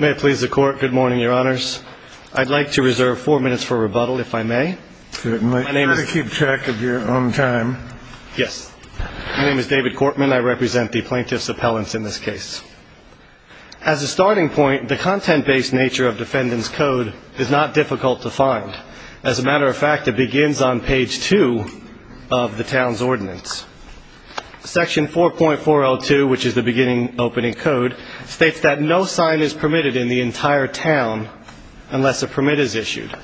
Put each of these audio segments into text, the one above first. May it please the court. Good morning, your honors. I'd like to reserve four minutes for rebuttal, if I may. My name is... Try to keep track of your own time. Yes. My name is David Cortman. I represent the plaintiff's appellants in this case. As a starting point, the content-based nature of defendant's code is not difficult to find. As a matter of fact, it begins on page 2 of the town's ordinance. Section 4.402, which is the beginning opening code, states that no sign is permitted in the entire town unless a permit is issued.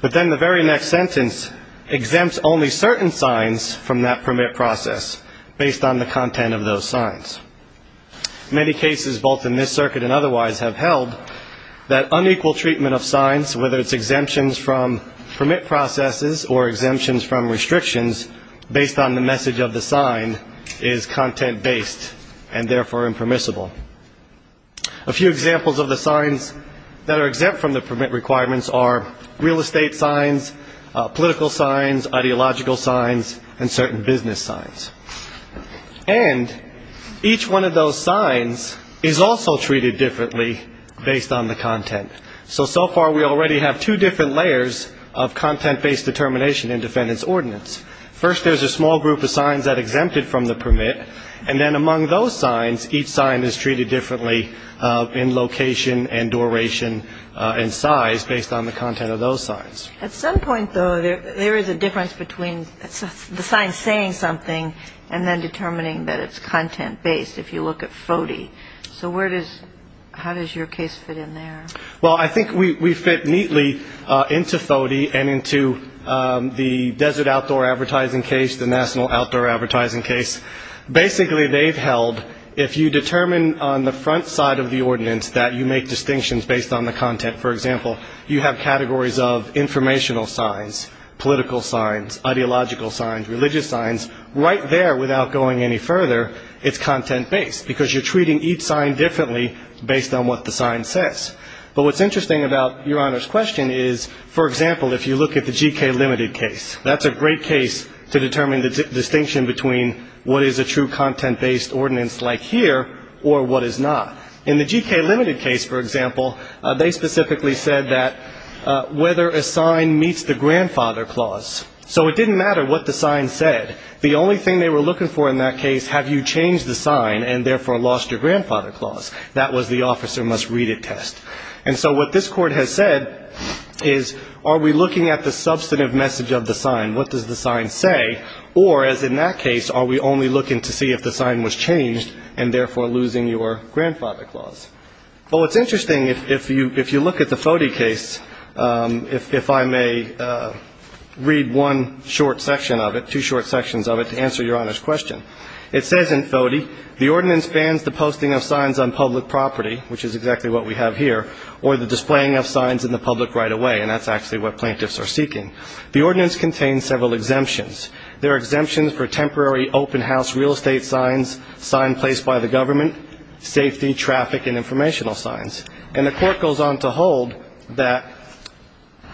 But then the very next sentence exempts only certain signs from that permit process, based on the content of those signs. Many cases, both in this circuit and otherwise, have held that unequal treatment of signs, whether it's exemptions from permit processes or exemptions from restrictions, based on the message of the sign is content-based and therefore impermissible. A few examples of the signs that are exempt from the permit requirements are real estate signs, political signs, ideological signs, and certain business signs. And each one of those signs is also treated differently based on the content. So, so far we already have two different layers of content-based determination in defendant's ordinance. First, there's a small group of signs that are exempted from the permit, and then among those signs, each sign is treated differently in location and duration and size, based on the content of those signs. At some point, though, there is a difference between the sign saying something and then determining that it's content-based, if you look at FODI. So where does, how does your case fit in there? Well, I think we fit neatly into FODI and into the Desert Outdoor Advertising Case, the National Outdoor Advertising Case. Basically, they've held, if you determine on the front side of the ordinance that you make distinctions based on the content, for example, you have categories of informational signs, political signs, ideological signs, religious signs. Right there, without going any further, it's content-based, because you're treating each sign differently based on what the sign says. But what's interesting about Your Honor's question is, for example, if you look at the G.K. Limited case, that's a great case to determine the distinction between what is a true content-based ordinance like here or what is not. In the G.K. Limited case, for example, they specifically said that whether a sign meets the grandfather clause. So it didn't matter what the sign said. The only thing they were looking for in that case, have you changed the sign and therefore lost your grandfather clause? That was the officer must read it test. And so what this Court has said is, are we looking at the substantive message of the sign? What does the sign say? Or, as in that case, are we only looking to see if the sign was changed and therefore losing your grandfather clause? Well, it's interesting, if you look at the FODE case, if I may read one short section of it, two short sections of it, to answer Your Honor's question. It says in FODE, the ordinance bans the posting of signs on public property, which is exactly what we have here, or the displaying of signs in the public right away. And that's actually what plaintiffs are seeking. The ordinance contains several exemptions. There are exemptions for temporary open house real estate signs, sign placed by the government, safety, traffic, and informational signs. And the Court goes on to hold that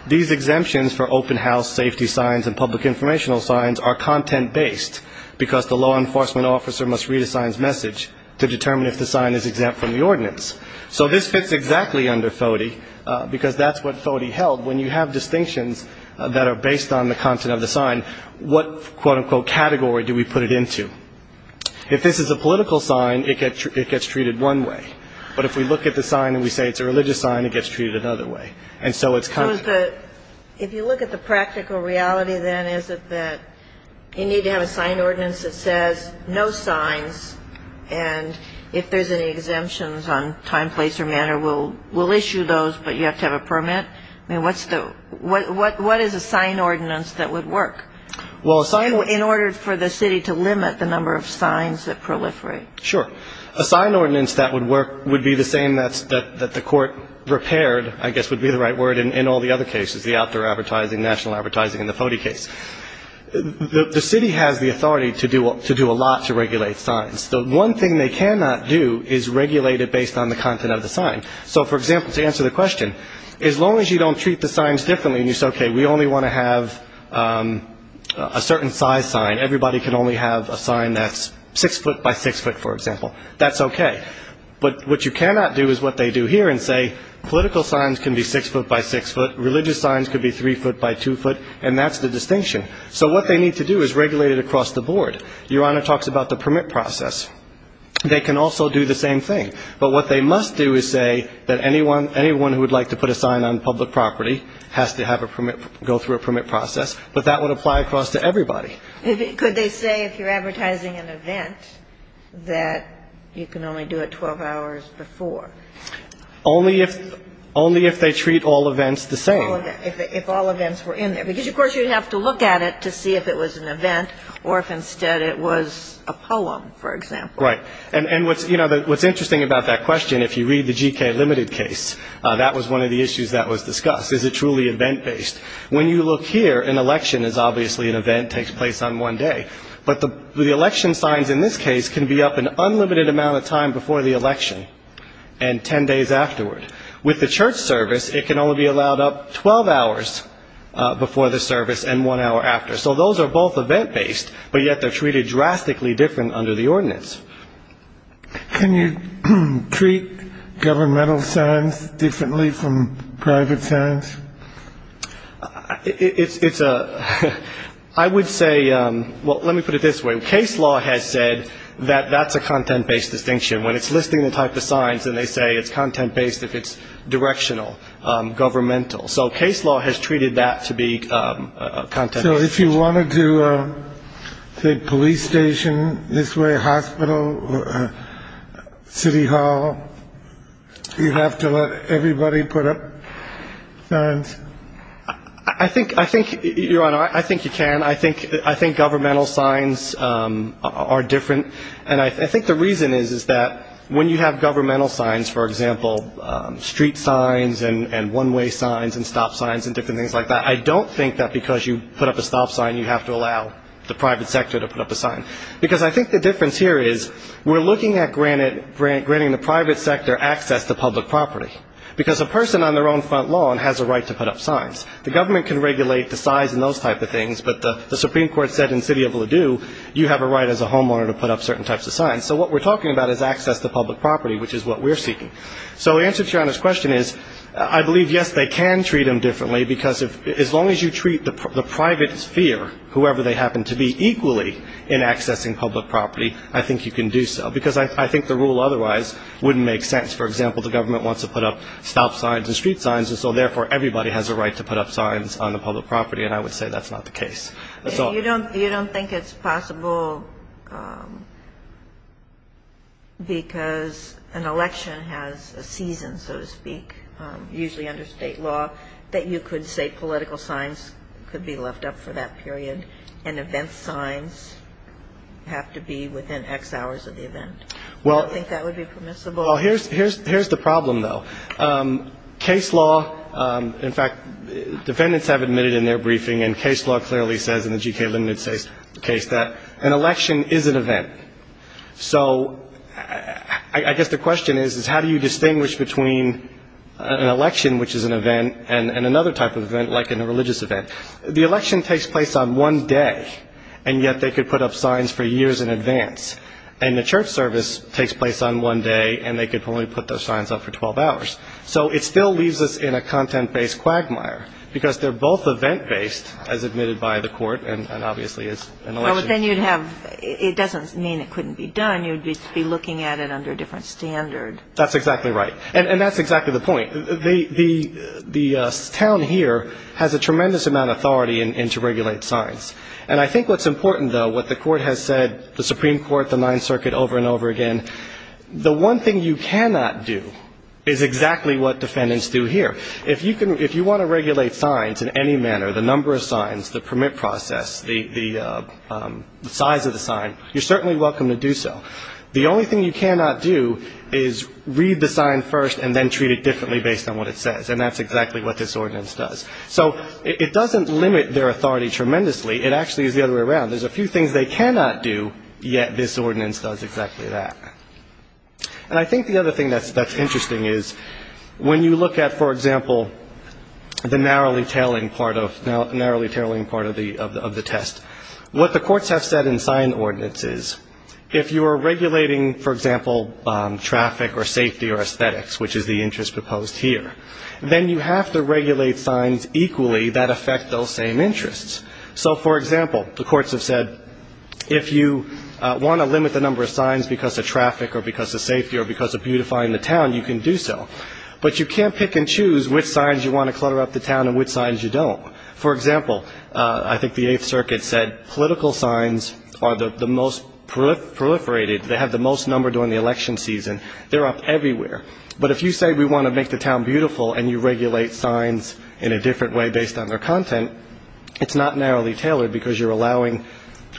these exemptions for open house safety signs and public informational signs are content-based, because the law enforcement officer must read a sign's message to determine if the sign is exempt from the ordinance. So this fits exactly under FODE, because that's what FODE held. When you have distinctions that are based on the content of the sign, what, quote-unquote, category do we put it into? If this is a political sign, it gets treated one way. But if we look at the sign and we say it's a religious sign, it gets treated another way. And so it's content. So if you look at the practical reality, then, is it that you need to have a sign ordinance that says no signs, and if there's any exemptions on time, place, or manner, we'll issue those, but you have to have a permit? I mean, what is a sign ordinance that would work in order for the city to limit the number of signs that proliferate? Sure. A sign ordinance that would work would be the same that the Court repaired, I guess would be the right word, in all the other cases, the outdoor advertising, national advertising, and the FODE case. The city has the authority to do a lot to regulate signs. The one thing they cannot do is regulate it based on the content of the sign. So, for example, to answer the question, as long as you don't treat the signs differently and you say, okay, we only want to have a certain size sign, everybody can only have a sign that's six foot by six foot, for example, that's okay. But what you cannot do is what they do here and say political signs can be six foot by six foot, religious signs could be three foot by two foot, and that's the distinction. So what they need to do is regulate it across the board. Your Honor talks about the permit process. They can also do the same thing. But what they must do is say that anyone who would like to put a sign on public property has to have a permit, go through a permit process, but that would apply across to everybody. Could they say if you're advertising an event that you can only do it 12 hours before? Only if they treat all events the same. If all events were in there. Because, of course, you'd have to look at it to see if it was an event or if instead it was a poem, for example. Right. And what's interesting about that question, if you read the G.K. Limited case, that was one of the issues that was discussed. Is it truly event-based? When you look here, an election is obviously an event, takes place on one day. But the election signs in this case can be up an unlimited amount of time before the election and 10 days afterward. With the church service, it can only be allowed up 12 hours before the service and one hour after. So those are both event based, but yet they're treated drastically different under the ordinance. Can you treat governmental signs differently from private signs? It's a I would say. Well, let me put it this way. Case law has said that that's a content based distinction when it's listing the type of signs. And they say it's content based if it's directional governmental. So case law has treated that to be content. So if you wanted to take police station this way, hospital city hall, you have to let everybody put up signs. I think I think you're on. I think you can. I think I think governmental signs are different. And I think the reason is, is that when you have governmental signs, for example, street signs and one way signs and stop signs and different things like that. I don't think that because you put up a stop sign, you have to allow the private sector to put up a sign. Because I think the difference here is we're looking at granted grant granting the private sector access to public property, because a person on their own front lawn has a right to put up signs. The government can regulate the size and those type of things. But the Supreme Court said in city of Ladue, you have a right as a homeowner to put up certain types of signs. So what we're talking about is access to public property, which is what we're seeking. So the answer to your question is, I believe, yes, they can treat them differently, because as long as you treat the private sphere, whoever they happen to be, equally in accessing public property, I think you can do so. Because I think the rule otherwise wouldn't make sense. For example, the government wants to put up stop signs and street signs. And so therefore, everybody has a right to put up signs on the public property. And I would say that's not the case. That's all. You don't think it's possible because an election has a season, so to speak, usually under state law, that you could say political signs could be left up for that period and event signs have to be within X hours of the event? Well, here's the problem, though. Case law, in fact, defendants have admitted in their briefing, and case law clearly says in the G.K. Linden case that an election is an event. So I guess the question is, is how do you distinguish between an election, which is an event, and another type of event, like in a religious event? The election takes place on one day, and yet they could put up signs for years in advance. And the church service takes place on one day, and they could only put those signs up for 12 hours. So it still leaves us in a content-based quagmire because they're both event-based, as admitted by the court, and obviously as an election. Well, but then you'd have – it doesn't mean it couldn't be done. You'd be looking at it under a different standard. That's exactly right. And that's exactly the point. The town here has a tremendous amount of authority to regulate signs. And I think what's important, though, what the Court has said, the Supreme Court, the Ninth Circuit, over and over again, the one thing you cannot do is exactly what defendants do here. If you can – if you want to regulate signs in any manner, the number of signs, the permit process, the size of the sign, you're certainly welcome to do so. The only thing you cannot do is read the sign first and then treat it differently based on what it says, and that's exactly what this ordinance does. So it doesn't limit their authority tremendously. It actually is the other way around. There's a few things they cannot do, yet this ordinance does exactly that. And I think the other thing that's interesting is when you look at, for example, the narrowly-tailing part of the test, what the courts have said in sign ordinances, if you are regulating, for example, traffic or safety or aesthetics, which is the interest proposed here, then you have to regulate signs equally that affect those same interests. So, for example, the courts have said if you want to limit the number of signs because of traffic or because of safety or because of beautifying the town, you can do so. But you can't pick and choose which signs you want to clutter up the town and which signs you don't. For example, I think the Eighth Circuit said political signs are the most proliferated. They have the most number during the election season. They're up everywhere. But if you say we want to make the town beautiful and you regulate signs in a different way based on their content, it's not narrowly-tailored because you're allowing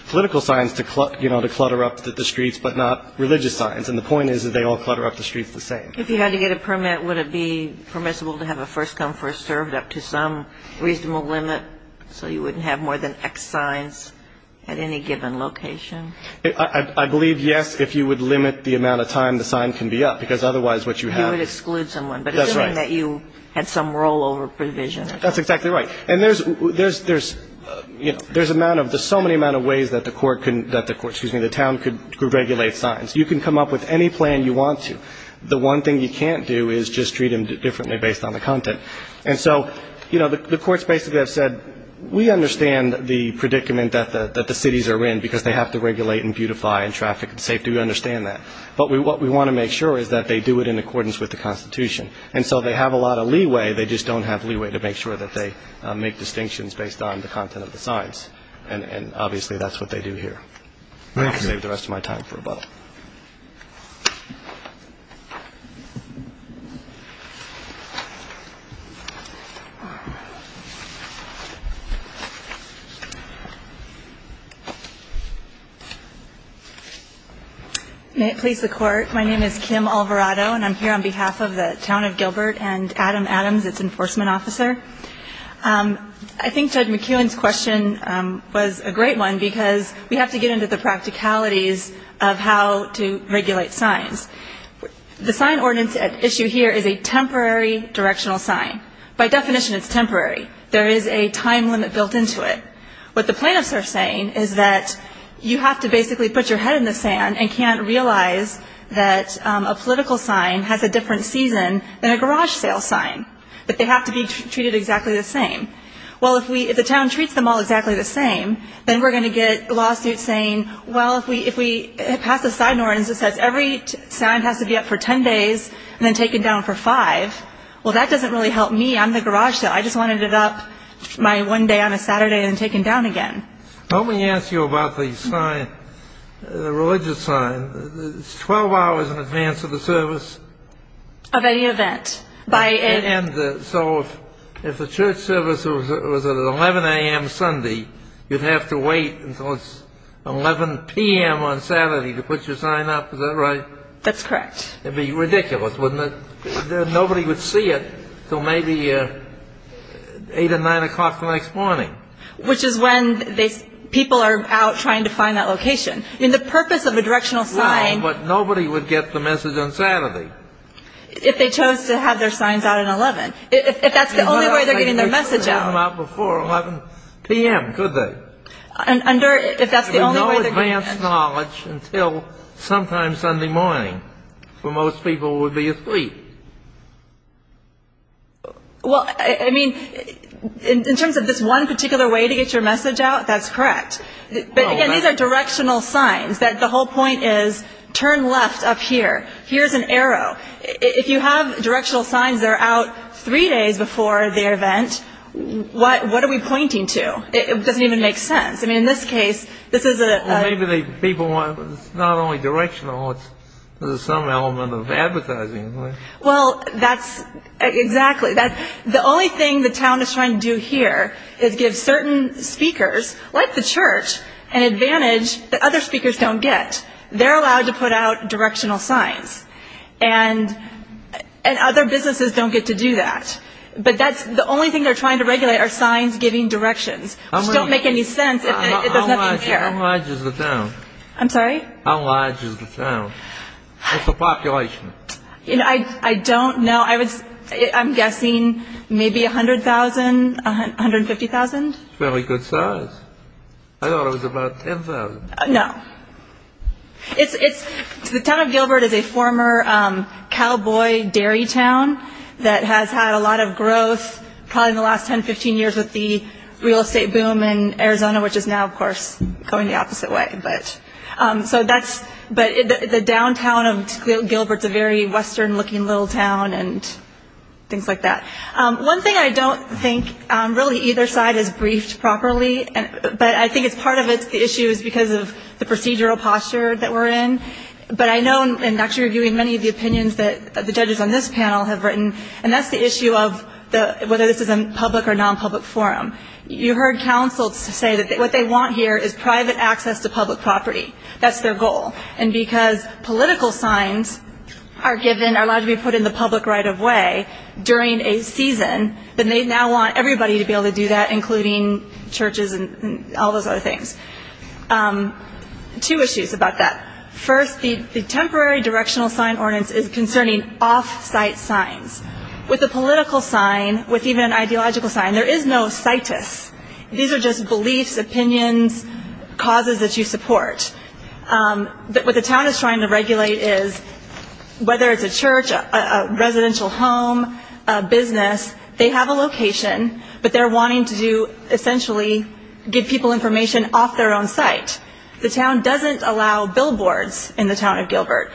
political signs to clutter up the streets but not religious signs. And the point is that they all clutter up the streets the same. If you had to get a permit, would it be permissible to have a first-come, first-served up to some reasonable limit so you wouldn't have more than X signs at any given location? I believe, yes, if you would limit the amount of time the sign can be up because otherwise what you have – You would exclude someone. That's right. But assuming that you had some rollover provision. That's exactly right. And there's so many amount of ways that the town could regulate signs. You can come up with any plan you want to. The one thing you can't do is just treat them differently based on the content. And so, you know, the courts basically have said, we understand the predicament that the cities are in because they have to regulate and beautify and traffic and safety. We understand that. But what we want to make sure is that they do it in accordance with the Constitution. And so they have a lot of leeway. They just don't have leeway to make sure that they make distinctions based on the content of the signs. And obviously that's what they do here. Thank you. I'm going to give the rest of my time for a vote. May it please the Court. My name is Kim Alvarado, and I'm here on behalf of the Town of Gilbert and Adam Adams, its enforcement officer. I think Judge McKeown's question was a great one, because we have to get into the practicalities of how to regulate signs. The sign ordinance at issue here is a temporary directional sign. By definition, it's temporary. There is a time limit built into it. What the plaintiffs are saying is that you have to basically put your head in the sand and can't realize that a political sign has a different season than a garage sale sign, that they have to be treated exactly the same. Well, if the town treats them all exactly the same, then we're going to get lawsuits saying, well, if we pass a sign ordinance that says every sign has to be up for ten days and then taken down for five, well, that doesn't really help me. I'm the garage sale. I just wanted it up my one day on a Saturday and taken down again. Let me ask you about the sign, the religious sign. It's 12 hours in advance of the service. Of any event. So if the church service was at 11 a.m. Sunday, you'd have to wait until it's 11 p.m. on Saturday to put your sign up, is that right? That's correct. It would be ridiculous, wouldn't it? Nobody would see it until maybe 8 or 9 o'clock the next morning. Which is when people are out trying to find that location. I mean, the purpose of a directional sign – Well, but nobody would get the message on Saturday. If they chose to have their signs out at 11. If that's the only way they're getting their message out. They wouldn't have to come out before 11 p.m., could they? If that's the only way they're getting their message out. There would be no advanced knowledge until sometime Sunday morning, where most people would be asleep. Well, I mean, in terms of this one particular way to get your message out, that's correct. But, again, these are directional signs. The whole point is turn left up here. Here's an arrow. If you have directional signs that are out three days before the event, what are we pointing to? It doesn't even make sense. I mean, in this case, this is a – Well, maybe the people want – it's not only directional. There's some element of advertising. Well, that's – exactly. The only thing the town is trying to do here is give certain speakers, like the church, an advantage that other speakers don't get. They're allowed to put out directional signs. And other businesses don't get to do that. But that's – the only thing they're trying to regulate are signs giving directions, which don't make any sense if there's nothing here. How large is the town? I'm sorry? How large is the town? What's the population? I don't know. I'm guessing maybe 100,000, 150,000. Fairly good size. I thought it was about 10,000. No. It's – the town of Gilbert is a former cowboy dairy town that has had a lot of growth, probably in the last 10, 15 years, with the real estate boom in Arizona, which is now, of course, going the opposite way. But so that's – but the downtown of Gilbert is a very western-looking little town and things like that. One thing I don't think – really, either side is briefed properly, but I think it's part of the issue is because of the procedural posture that we're in. But I know, and actually reviewing many of the opinions that the judges on this panel have written, and that's the issue of whether this is a public or non-public forum. You heard councils say that what they want here is private access to public property. That's their goal. And because political signs are given, are allowed to be put in the public right-of-way during a season, then they now want everybody to be able to do that, including churches and all those other things. Two issues about that. First, the temporary directional sign ordinance is concerning off-site signs. With a political sign, with even an ideological sign, there is no situs. These are just beliefs, opinions, causes that you support. What the town is trying to regulate is whether it's a church, a residential home, a business, they have a location, but they're wanting to essentially give people information off their own site. The town doesn't allow billboards in the town of Gilbert.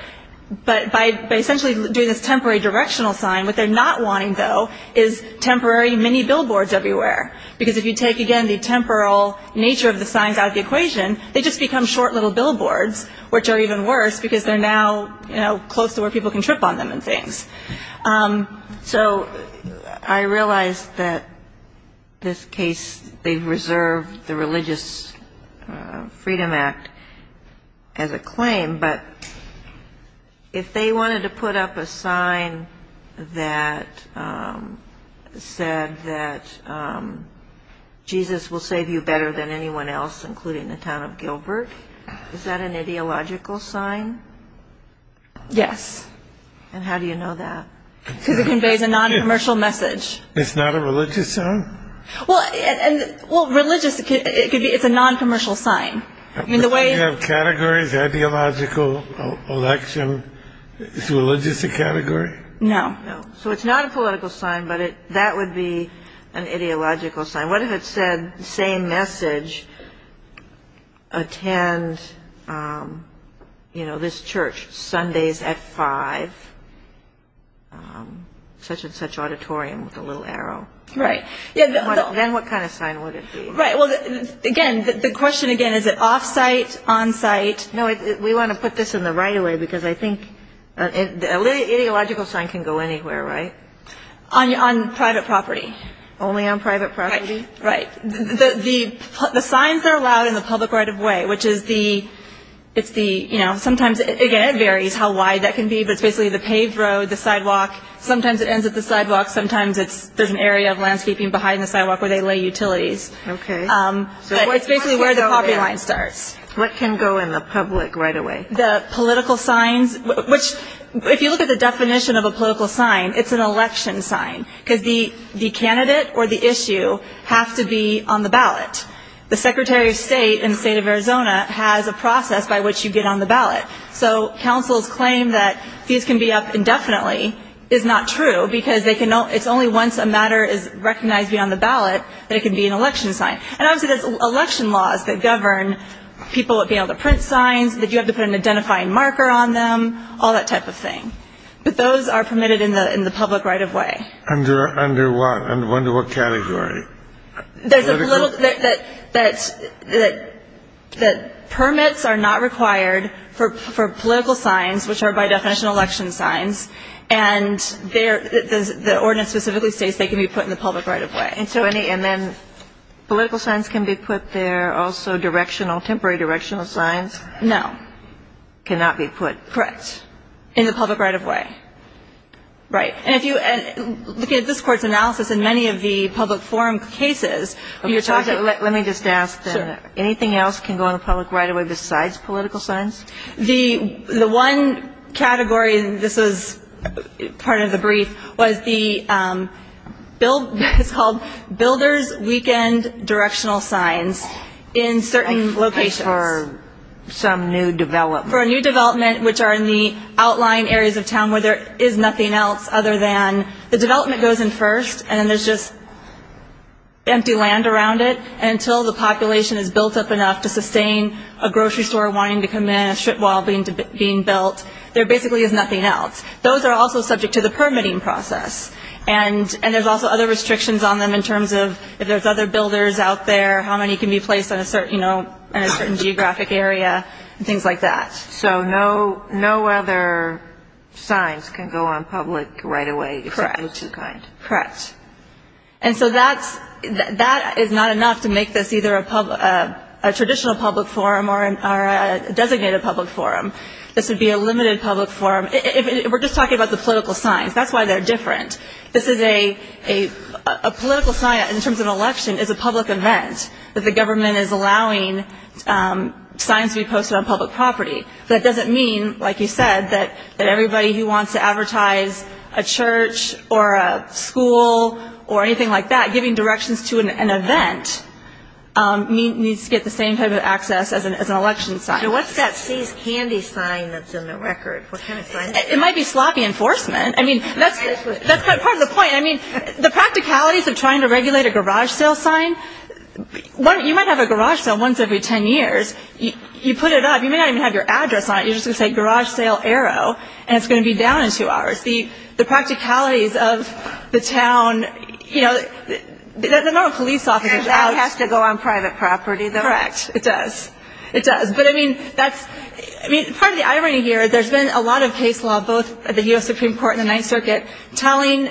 But by essentially doing this temporary directional sign, what they're not wanting, though, is temporary mini-billboards everywhere. Because if you take, again, the temporal nature of the signs out of the equation, they just become short little billboards, which are even worse, because they're now close to where people can trip on them and things. So I realize that this case, they've reserved the Religious Freedom Act as a claim, but if they wanted to put up a sign that said that Jesus will save you better than anyone else, including the town of Gilbert, is that an ideological sign? Yes. And how do you know that? Because it conveys a noncommercial message. It's not a religious sign? Well, religious, it's a noncommercial sign. Do you have categories, ideological, election? Is religious a category? No. So it's not a political sign, but that would be an ideological sign. What if it said, same message, attend this church Sundays at 5, such and such auditorium, with a little arrow? Right. Then what kind of sign would it be? Right. Well, again, the question again, is it off-site, on-site? No, we want to put this in the right-of-way, because I think an ideological sign can go anywhere, right? On private property. Only on private property? Right. The signs are allowed in the public right-of-way, which is the, you know, sometimes, again, it varies how wide that can be, but it's basically the paved road, the sidewalk. Sometimes it ends at the sidewalk. Sometimes there's an area of landscaping behind the sidewalk where they lay utilities. Okay. It's basically where the property line starts. What can go in the public right-of-way? The political signs, which if you look at the definition of a political sign, it's an election sign, because the candidate or the issue have to be on the ballot. The Secretary of State in the state of Arizona has a process by which you get on the ballot. So councils claim that these can be up indefinitely is not true, because it's only once a matter is recognized beyond the ballot that it can be an election sign. And obviously there's election laws that govern people being able to print signs, that you have to put an identifying marker on them, all that type of thing. But those are permitted in the public right-of-way. Under what? Under what category? That permits are not required for political signs, which are by definition election signs, and the ordinance specifically states they can be put in the public right-of-way. And then political signs can be put there, also directional, temporary directional signs? No. Cannot be put? Correct. In the public right-of-way. Right. And if you look at this Court's analysis in many of the public forum cases. Let me just ask. Sure. Anything else can go in the public right-of-way besides political signs? The one category, and this is part of the brief, was it's called builder's weekend directional signs in certain locations. For some new development. For a new development, which are in the outlying areas of town where there is nothing else other than the development goes in first and then there's just empty land around it until the population is built up enough to sustain a grocery store wanting to come in, a strip mall being built. There basically is nothing else. Those are also subject to the permitting process. And there's also other restrictions on them in terms of if there's other builders out there, how many can be placed in a certain geographic area and things like that. So no other signs can go on public right-of-way except those two kinds. Correct. Correct. And so that is not enough to make this either a traditional public forum or a designated public forum. This would be a limited public forum. We're just talking about the political signs. That's why they're different. This is a political sign in terms of an election is a public event that the government is allowing signs to be posted on public property. That doesn't mean, like you said, that everybody who wants to advertise a church or a school or anything like that giving directions to an event needs to get the same type of access as an election sign. So what's that seize candy sign that's in the record? What kind of sign is that? It might be sloppy enforcement. I mean, that's part of the point. I mean, the practicalities of trying to regulate a garage sale sign, you might have a garage sale once every ten years. You put it up. You may not even have your address on it. You're just going to say garage sale arrow, and it's going to be down in two hours. The practicalities of the town, you know, the number of police officers out. That has to go on private property, though. Correct. It does. It does. But, I mean, part of the irony here, there's been a lot of case law both at the U.S. Supreme Court and the Ninth Circuit telling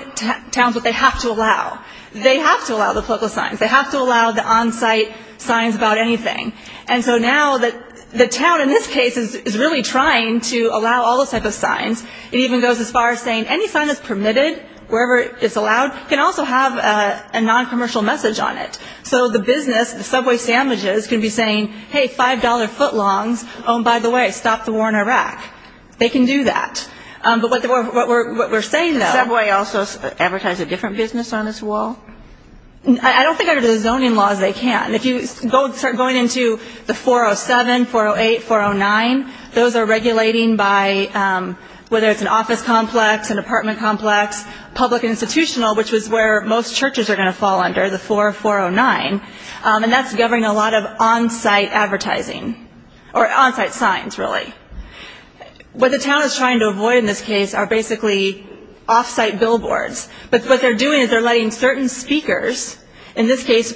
towns what they have to allow. They have to allow the political signs. They have to allow the on-site signs about anything. And so now the town, in this case, is really trying to allow all those types of signs. It even goes as far as saying any sign that's permitted, wherever it's allowed, can also have a noncommercial message on it. So the business, the subway sandwiches, can be saying, hey, $5 footlongs, oh, and by the way, stop the war in Iraq. They can do that. But what we're saying, though. Does the subway also advertise a different business on this wall? I don't think under the zoning laws they can. If you start going into the 407, 408, 409, those are regulating by whether it's an office complex, an apartment complex, public institutional, which is where most churches are going to fall under, the 4409, and that's governing a lot of on-site advertising or on-site signs, really. What the town is trying to avoid in this case are basically off-site billboards. But what they're doing is they're letting certain speakers, in this case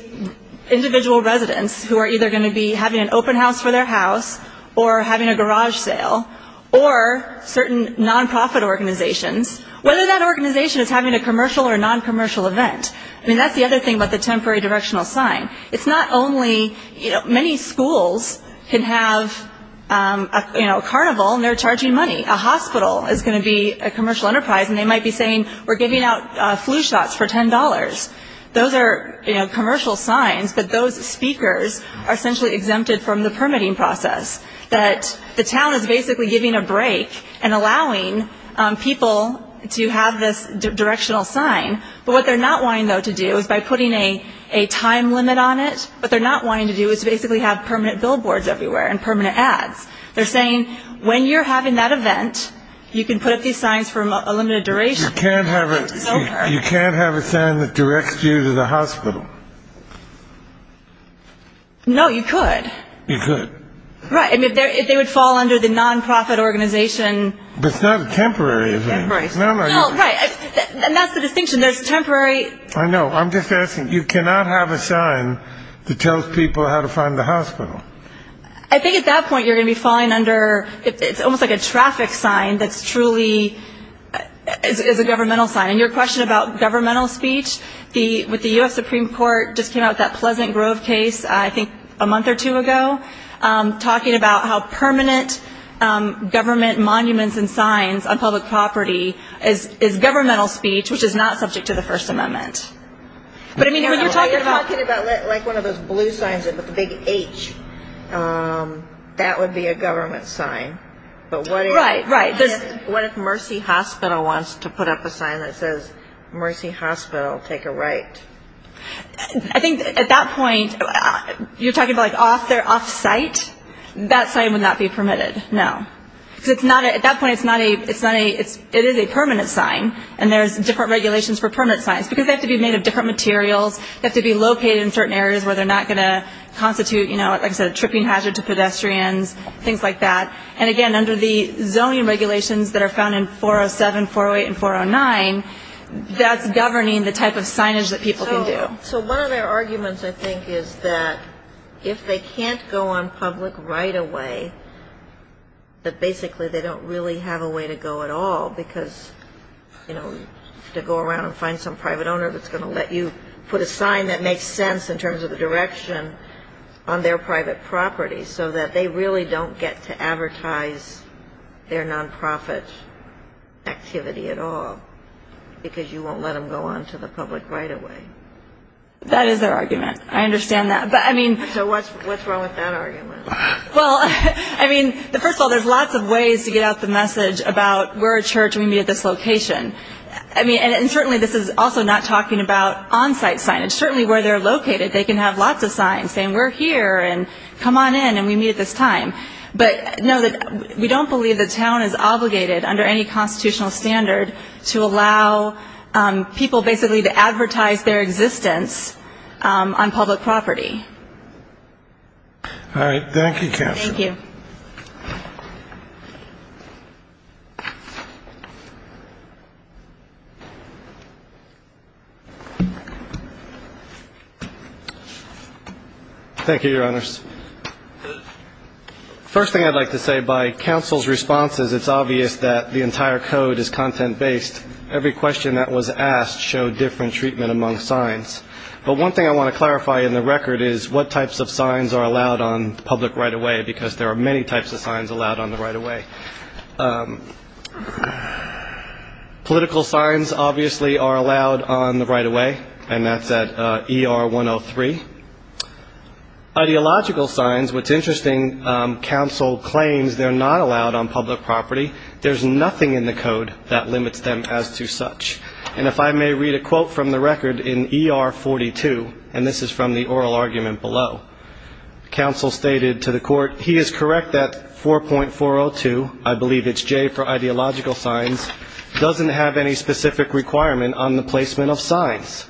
individual residents, who are either going to be having an open house for their house or having a garage sale or certain nonprofit organizations, whether that organization is having a commercial or noncommercial event. I mean, that's the other thing about the temporary directional sign. It's not only, you know, many schools can have a carnival and they're charging money. A hospital is going to be a commercial enterprise and they might be saying we're giving out flu shots for $10. Those are commercial signs, but those speakers are essentially exempted from the permitting process. The town is basically giving a break and allowing people to have this directional sign. But what they're not wanting, though, to do is by putting a time limit on it, what they're not wanting to do is basically have permanent billboards everywhere and permanent ads. They're saying when you're having that event, you can put up these signs for a limited duration. You can't have a sign that directs you to the hospital. No, you could. You could. Right. I mean, they would fall under the nonprofit organization. But it's not a temporary event. Temporary. No, right. And that's the distinction. There's temporary. I know. I'm just asking. You cannot have a sign that tells people how to find the hospital. I think at that point you're going to be falling under it's almost like a traffic sign that's truly is a governmental sign. And your question about governmental speech, with the U.S. Supreme Court just came out with that Pleasant Grove case, I think, a month or two ago, talking about how permanent government monuments and signs on public property is governmental speech, which is not subject to the First Amendment. But, I mean, when you're talking about one of those blue signs with a big H, that would be a government sign. Right, right. What if Mercy Hospital wants to put up a sign that says, Mercy Hospital, take a right? I think at that point you're talking about like off site. That sign would not be permitted. No. Because at that point it is a permanent sign, and there's different regulations for permanent signs. Because they have to be made of different materials. They have to be located in certain areas where they're not going to constitute, like I said, a tripping hazard to pedestrians, things like that. And, again, under the zoning regulations that are found in 407, 408, and 409, that's governing the type of signage that people can do. So one of their arguments, I think, is that if they can't go on public right away, that basically they don't really have a way to go at all because, you know, to go around and find some private owner that's going to let you put a sign that makes sense in terms of the direction on their private property so that they really don't get to advertise their nonprofit activity at all. Because you won't let them go on to the public right away. That is their argument. I understand that. But, I mean. So what's wrong with that argument? Well, I mean, first of all, there's lots of ways to get out the message about we're a church and we meet at this location. I mean, and certainly this is also not talking about on site signage. Certainly where they're located they can have lots of signs saying we're here and come on in and we meet at this time. But, no, we don't believe the town is obligated under any constitutional standard to allow people basically to advertise their existence on public property. All right. Thank you, Counselor. Thank you. Thank you, Your Honors. First thing I'd like to say, by counsel's responses it's obvious that the entire code is content based. Every question that was asked showed different treatment among signs. But one thing I want to clarify in the record is what types of signs are allowed on public right of way, because there are many types of signs allowed on the right of way. Political signs obviously are allowed on the right of way, and that's at ER 103. Ideological signs, what's interesting, counsel claims they're not allowed on public property. There's nothing in the code that limits them as to such. And if I may read a quote from the record in ER 42, and this is from the oral argument below. Counsel stated to the court, he is correct that 4.402, I believe it's J for ideological signs, doesn't have any specific requirement on the placement of signs.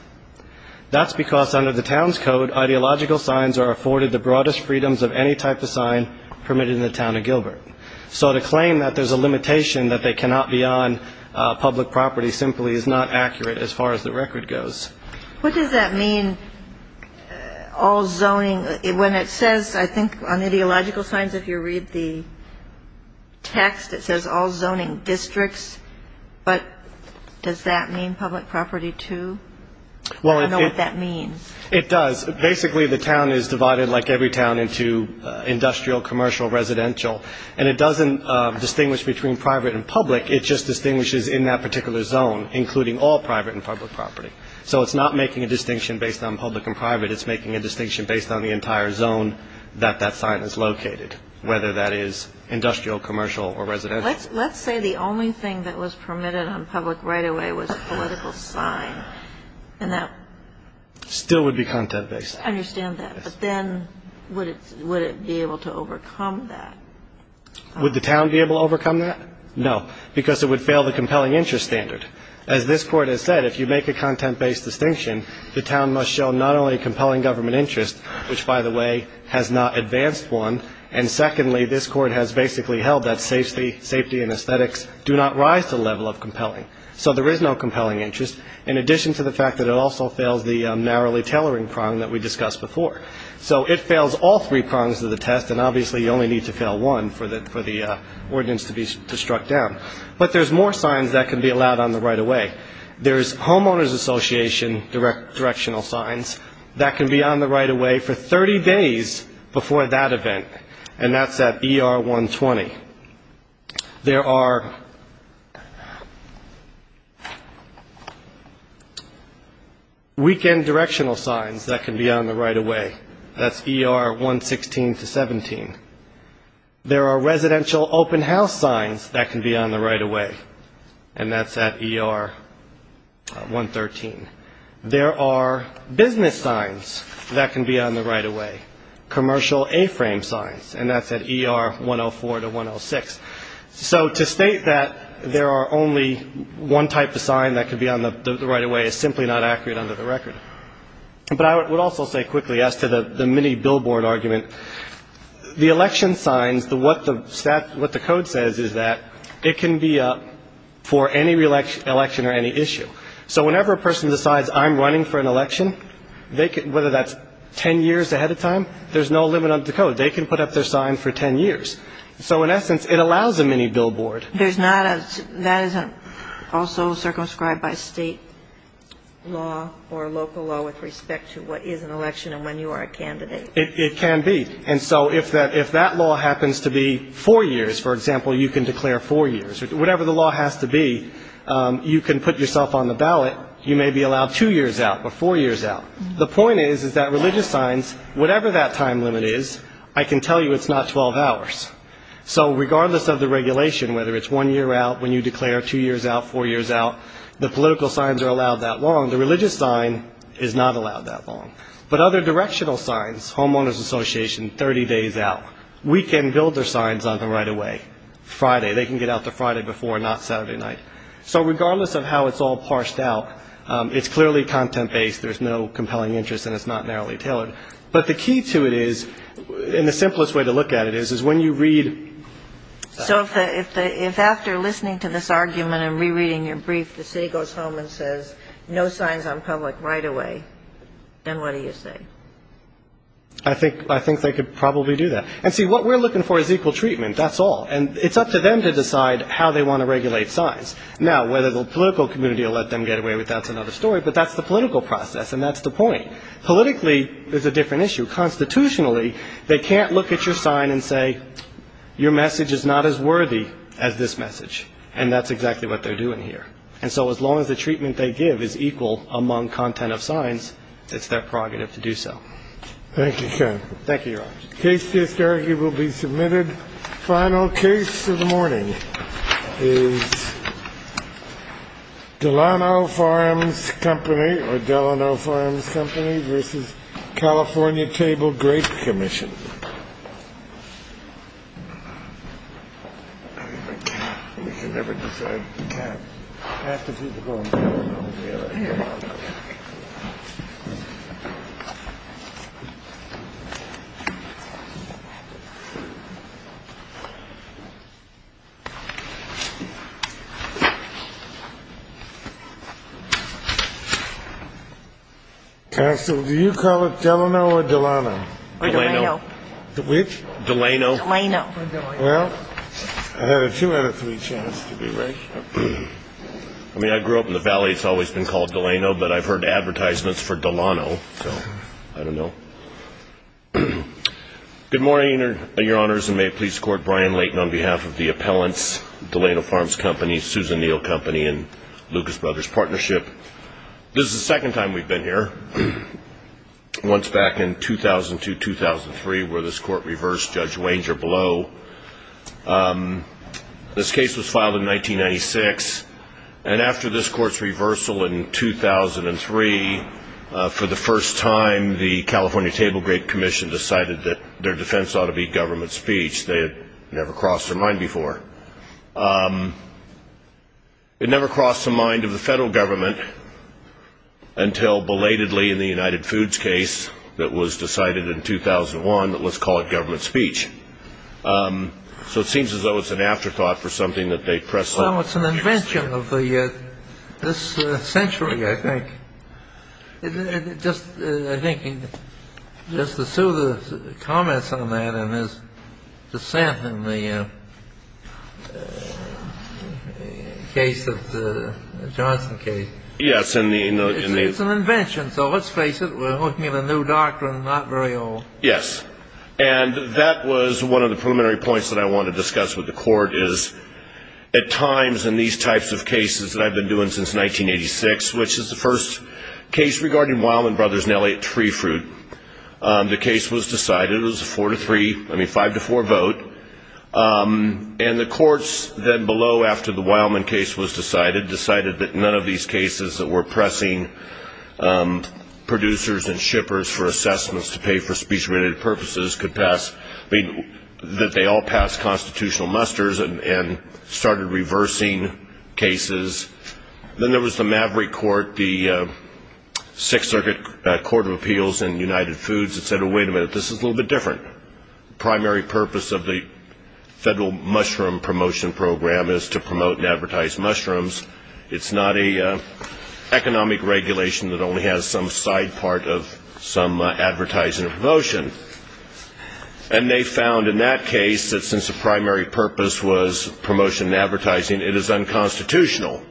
That's because under the town's code, ideological signs are afforded the broadest freedoms of any type of sign permitted in the town of Gilbert. So to claim that there's a limitation that they cannot be on public property simply is not accurate as far as the record goes. What does that mean, all zoning? When it says, I think, on ideological signs, if you read the text, it says all zoning districts. But does that mean public property, too? I don't know what that means. It does. Basically, the town is divided like every town into industrial, commercial, residential. And it doesn't distinguish between private and public. It just distinguishes in that particular zone, including all private and public property. So it's not making a distinction based on public and private. It's making a distinction based on the entire zone that that sign is located, whether that is industrial, commercial or residential. Let's say the only thing that was permitted on public right-of-way was a political sign. And that still would be content-based. I understand that, but then would it be able to overcome that? Would the town be able to overcome that? No, because it would fail the compelling interest standard. As this Court has said, if you make a content-based distinction, the town must show not only compelling government interest, which, by the way, has not advanced one, and secondly, this Court has basically held that safety and aesthetics do not rise to the level of compelling. So there is no compelling interest, in addition to the fact that it also fails the narrowly tailoring prong that we discussed before. So it fails all three prongs of the test, and obviously you only need to fail one for the ordinance to be struck down. But there's more signs that can be allowed on the right-of-way. There's homeowners association directional signs that can be on the right-of-way for 30 days before that event, and that's at ER 120. There are weekend directional signs that can be on the right-of-way. That's ER 116 to 17. There are residential open house signs that can be on the right-of-way, and that's at ER 113. There are business signs that can be on the right-of-way, commercial A-frame signs, and that's at ER 104 to 106. So to state that there are only one type of sign that can be on the right-of-way is simply not accurate under the record. But I would also say quickly as to the mini billboard argument, the election signs, what the code says is that it can be up for any election or any issue. So whenever a person decides I'm running for an election, whether that's 10 years ahead of time, there's no limit on the code. They can put up their sign for 10 years. So in essence, it allows a mini billboard. There's not a, that isn't also circumscribed by state law or local law with respect to what is an election and when you are a candidate. It can be. And so if that law happens to be four years, for example, you can declare four years. Whatever the law has to be, you can put yourself on the ballot. You may be allowed two years out or four years out. The point is, is that religious signs, whatever that time limit is, I can tell you it's not 12 hours. So regardless of the regulation, whether it's one year out, when you declare two years out, four years out, the political signs are allowed that long. The religious sign is not allowed that long. But other directional signs, homeowners association, 30 days out, we can build their signs on them right away, Friday. They can get out the Friday before, not Saturday night. So regardless of how it's all parsed out, it's clearly content-based, there's no compelling interest and it's not narrowly tailored. But the key to it is, and the simplest way to look at it is, is when you read. So if after listening to this argument and rereading your brief, the city goes home and says no signs on public right away, then what do you do? What do you say? I think they could probably do that. And see, what we're looking for is equal treatment, that's all. And it's up to them to decide how they want to regulate signs. Now, whether the political community will let them get away with that is another story, but that's the political process and that's the point. I think we're going to have to do so. Thank you, Ken. Thank you, Your Honor. Case to this argument will be submitted. Final case of the morning is Delano Farms Company or Delano Farms Company versus California Table Grape Commission. Counsel, do you call it Delano or Delano? Delano. Which? I don't know. Good morning, Your Honors, and may it please the Court, Brian Layton on behalf of the appellants, Delano Farms Company, Susan Neal Company, and Lucas Brothers Partnership. This is the second time we've been here. Once back in 2002, 2003, where this Court reversed Judge Wanger Blow. This case was filed in 1996, and after this Court's reversal in 2003, for the first time, the California Table Grape Commission decided that their defense ought to be government speech. They had never crossed their mind before. It never crossed the mind of the federal government until belatedly in the United Foods case that was decided in 2001, but let's call it government speech. So it seems as though it's an afterthought for something that they pressed on. Well, it's an invention of this century, I think. Just to sue the comments on that and his dissent in the case of the Johnson case. Yes. It's an invention, so let's face it, we're looking at a new doctrine, not very old. Yes, and that was one of the preliminary points that I wanted to discuss with the Court, is at times in these types of cases that I've been doing since 1986, which is the first case regarding Wildman Brothers and LA Tree Fruit. The case was decided, it was a four to three, I mean five to four vote, and the courts then below, after the Wildman case was decided, decided that none of these cases that were pressing producers and shippers for assessments to pay for speech-related purposes could pass, that they all pass constitutional musters and started reversing cases. Then there was the Maverick Court, the Sixth Circuit Court of Appeals in United Foods that said, oh, wait a minute, this is a little bit different. The primary purpose of the federal mushroom promotion program is to promote and advertise mushrooms. It's not an economic regulation that only has some side part of some advertising or promotion. And they found in that case that since the primary purpose was promotion and advertising, it is unconstitutional.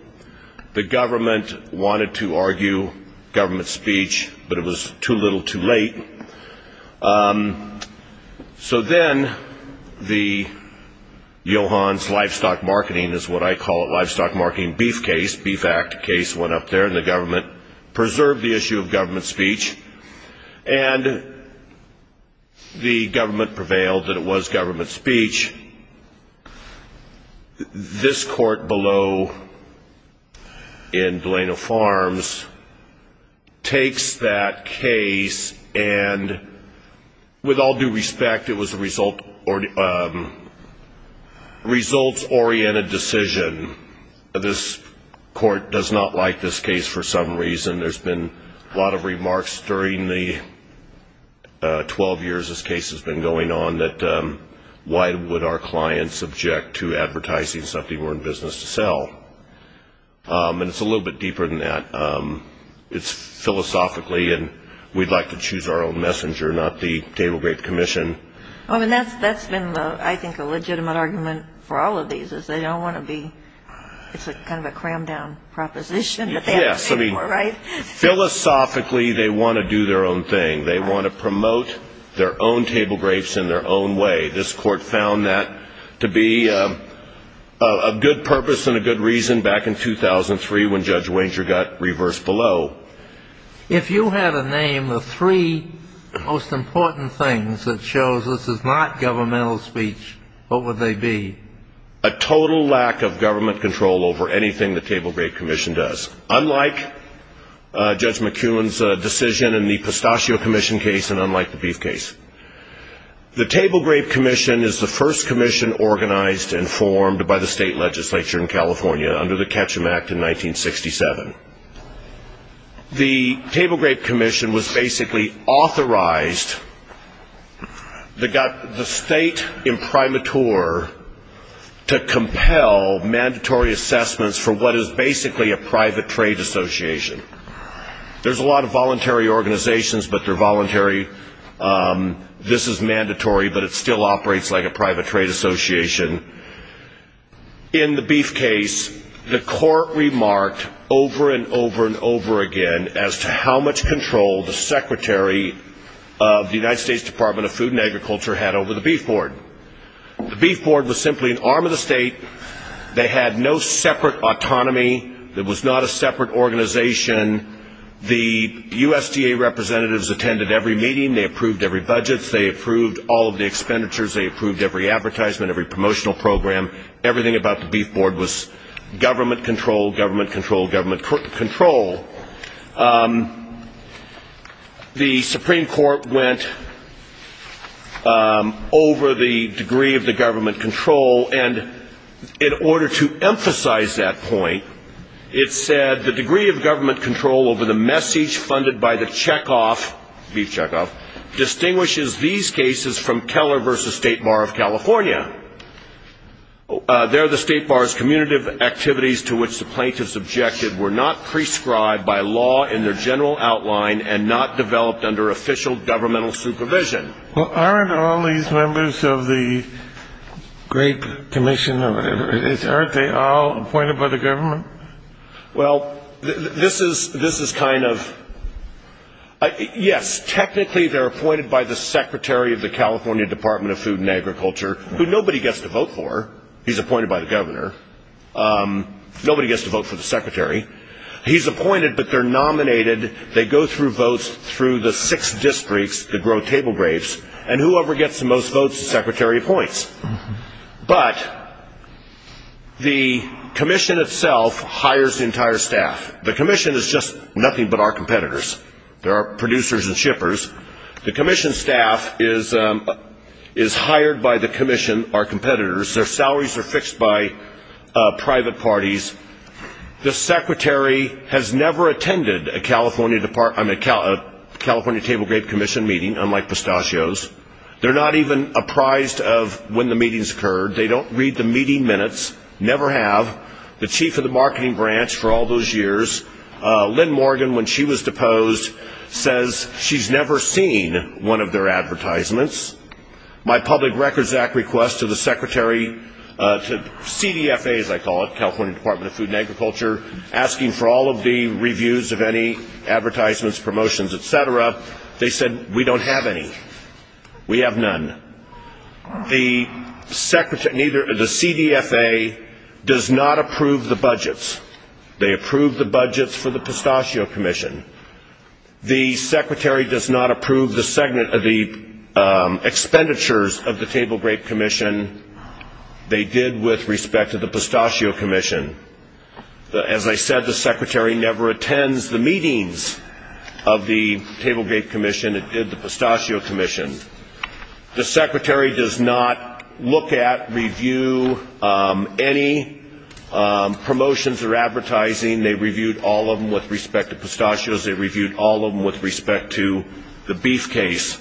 The government wanted to argue government speech, but it was too little too late. So then, the Johans Livestock Marketing, is what I call it, Livestock Marketing Beef case, Beef Act case, went up there and the government preserved the issue of government speech, and the government prevailed that it was government speech. This court below in Delano Farms takes that case and, with all due respect, it was a results-oriented decision. This court does not like this case for some reason. There's been a lot of remarks during the 12 years this case has been going on that, why would our clients object to advertising something we're in business to sell? And it's a little bit deeper than that. It's philosophically, and we'd like to choose our own messenger, not the table grape commission. I mean, that's been, I think, a legitimate argument for all of these, is they don't want to be, it's kind of a crammed down proposition. Yes, I mean, philosophically, they want to do their own thing. They want to promote their own table grapes in their own way. This court found that to be of good purpose and a good reason back in 2003 when Judge Wanger got reversed below. If you had a name, the three most important things that shows this is not governmental speech, what would they be? A total lack of government control over anything the table grape commission does, unlike Judge McEwen's decision in the pistachio commission case and unlike the beef case. The table grape commission is the first commission organized and formed by the state legislature in California under the Ketchum Act in 1967. The table grape commission was basically authorized, the state imprimatur, to compel mandatory assessments for what is basically a private trade association. There's a lot of voluntary organizations, but they're voluntary. This is mandatory, but it still operates like a private trade association. In the beef case, the court remarked over and over and over again as to how much control the secretary of the United States Department of Food and Agriculture had over the beef board. The beef board was simply an arm of the state. They had no separate autonomy. It was not a separate organization. The USDA representatives attended every meeting. They approved every budget. They approved all of the expenditures. They approved every advertisement, every promotional program. Everything about the beef board was government control, government control, government control. The Supreme Court went over the degree of the government control, and in order to emphasize that point, it said the degree of government control over the message funded by the checkoff, beef checkoff, distinguishes these cases from Keller v. State Bar of California. There, the State Bar's commutative activities to which the plaintiffs objected were not prescribed by law in their general outline and not developed under official governmental supervision. Well, aren't all these members of the Great Commission, aren't they all appointed by the government? Well, this is kind of yes. Technically, they're appointed by the secretary of the California Department of Food and Agriculture, who nobody gets to vote for. He's appointed by the governor. Nobody gets to vote for the secretary. He's appointed, but they're nominated. They go through votes through the six districts that grow table grapes, and whoever gets the most votes, the secretary appoints. But the commission itself hires the entire staff. The commission is just nothing but our competitors. There are producers and shippers. The commission staff is hired by the commission, our competitors. Their salaries are fixed by private parties. The secretary has never attended a California Table Grape Commission meeting, unlike pistachios. They're not even apprised of when the meetings occurred. They don't read the meeting minutes, never have. The chief of the marketing branch for all those years, Lynn Morgan, when she was deposed, says she's never seen one of their advertisements. My Public Records Act request to the secretary, to CDFA as I call it, California Department of Food and Agriculture, asking for all of the reviews of any advertisements, promotions, et cetera, they said we don't have any. We have none. The CDFA does not approve the budgets. They approve the budgets for the Pistachio Commission. The secretary does not approve the expenditures of the Table Grape Commission. They did with respect to the Pistachio Commission. As I said, the secretary never attends the meetings of the Table Grape Commission. It did the Pistachio Commission. The secretary does not look at, review any promotions or advertising. They reviewed all of them with respect to pistachios. They reviewed all of them with respect to the beef case.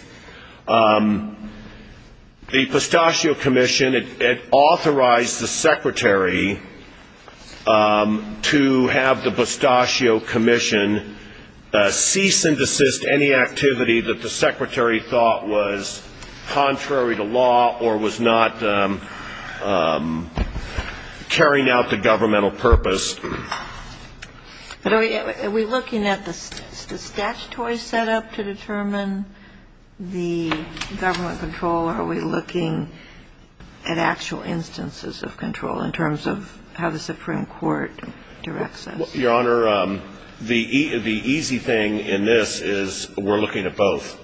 The Pistachio Commission, it authorized the secretary to have the Pistachio Commission cease and desist any activity that the secretary thought was contrary to law or was not carrying out the governmental purpose. Are we looking at the statutory setup to determine the government control, or are we looking at actual instances of control in terms of how the Supreme Court directs us? Your Honor, the easy thing in this is we're looking at both.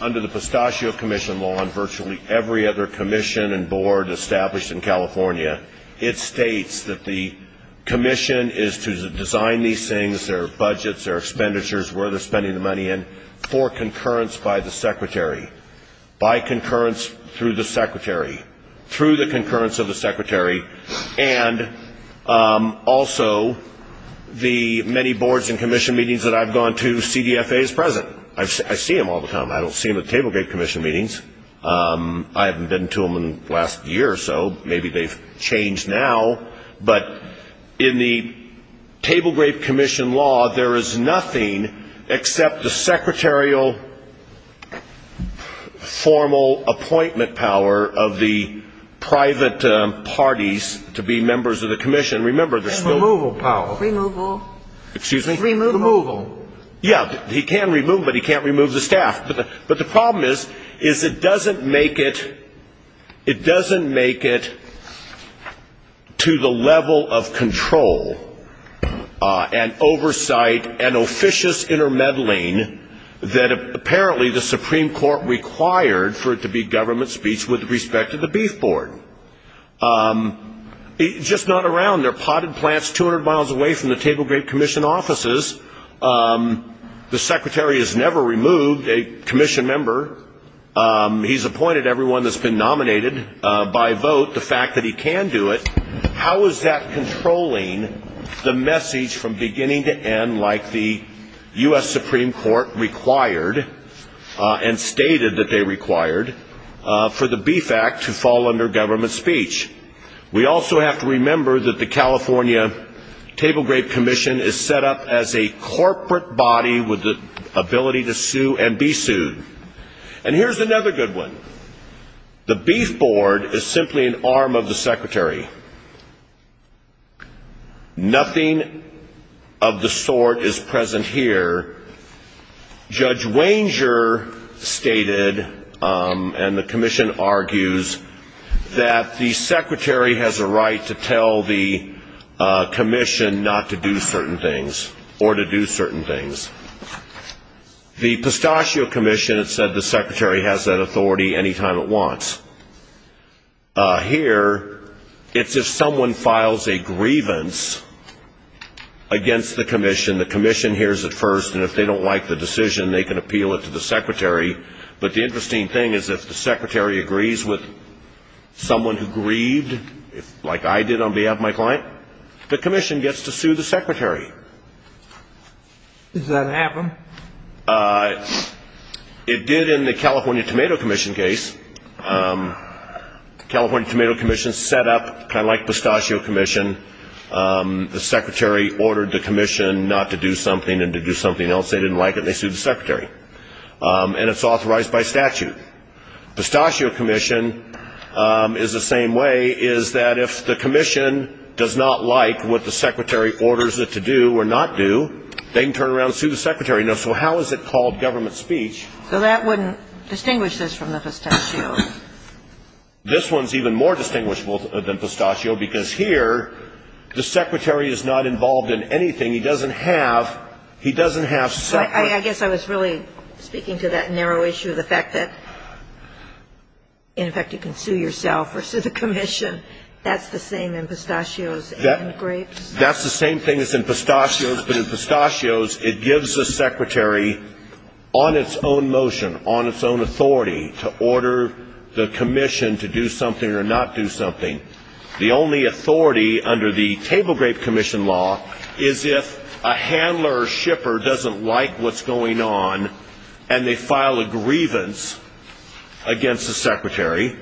Under the Pistachio Commission law on virtually every other commission and board established in California, it states that the commission is to design these things, their budgets, their expenditures, where they're spending the money in, for concurrence by the secretary, by concurrence through the secretary, through the concurrence of the secretary, and also the many boards and commission meetings that I've gone to, CDFA is present. I see them all the time. I don't see them at the Table Grape Commission meetings. I haven't been to them in the last year or so. Maybe they've changed now. But in the Table Grape Commission law, there is nothing except the secretarial formal appointment power of the private parties to be members of the commission. Remember, there's no ---- And removal power. Removal. Excuse me? Removal. Removal. Yeah, he can remove, but he can't remove the staff. But the problem is, is it doesn't make it to the level of control and oversight and officious intermeddling that apparently the Supreme Court required for it to be government speech with respect to the Beef Board. It's just not around. They're potted plants 200 miles away from the Table Grape Commission offices. The secretary has never removed a commission member. He's appointed everyone that's been nominated by vote, the fact that he can do it. How is that controlling the message from beginning to end like the U.S. Supreme Court required and stated that they required for the Beef Act to fall under government speech? We also have to remember that the California Table Grape Commission is set up as a corporate body with the ability to sue and be sued. And here's another good one. The Beef Board is simply an arm of the secretary. Nothing of the sort is present here. Judge Wanger stated, and the commission argues, that the secretary has a right to tell the commission not to do certain things or to do certain things. The Pistachio Commission has said the secretary has that authority any time it wants. Here, it's if someone files a grievance against the commission. And the commission hears it first. And if they don't like the decision, they can appeal it to the secretary. But the interesting thing is if the secretary agrees with someone who grieved, like I did on behalf of my client, the commission gets to sue the secretary. Does that happen? It did in the California Tomato Commission case. The California Tomato Commission is set up kind of like the Pistachio Commission. The secretary ordered the commission not to do something and to do something else. They didn't like it, and they sued the secretary. And it's authorized by statute. Pistachio Commission is the same way, is that if the commission does not like what the secretary orders it to do or not do, they can turn around and sue the secretary. Now, so how is it called government speech? So that wouldn't distinguish this from the pistachio? This one's even more distinguishable than pistachio because here the secretary is not involved in anything. He doesn't have separate. I guess I was really speaking to that narrow issue of the fact that, in effect, you can sue yourself or sue the commission. That's the same in pistachios and grapes. That's the same thing as in pistachios. But in pistachios, it gives the secretary on its own motion, on its own authority, to order the commission to do something or not do something. The only authority under the table grape commission law is if a handler or shipper doesn't like what's going on and they file a grievance against the secretary,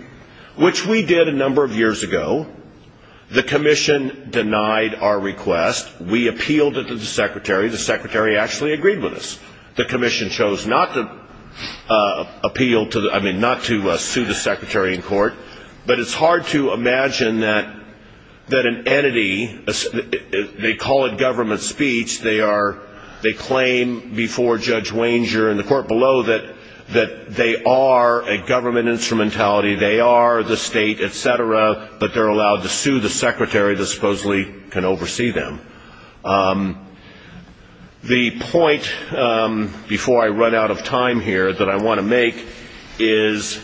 which we did a number of years ago. The commission denied our request. We appealed it to the secretary. The secretary actually agreed with us. The commission chose not to appeal to the ‑‑ I mean, not to sue the secretary in court. But it's hard to imagine that an entity, they call it government speech, they claim before Judge Wanger and the court below that they are a government instrumentality, they are the state, et cetera, but they're allowed to sue the secretary that supposedly can oversee them. The point, before I run out of time here, that I want to make is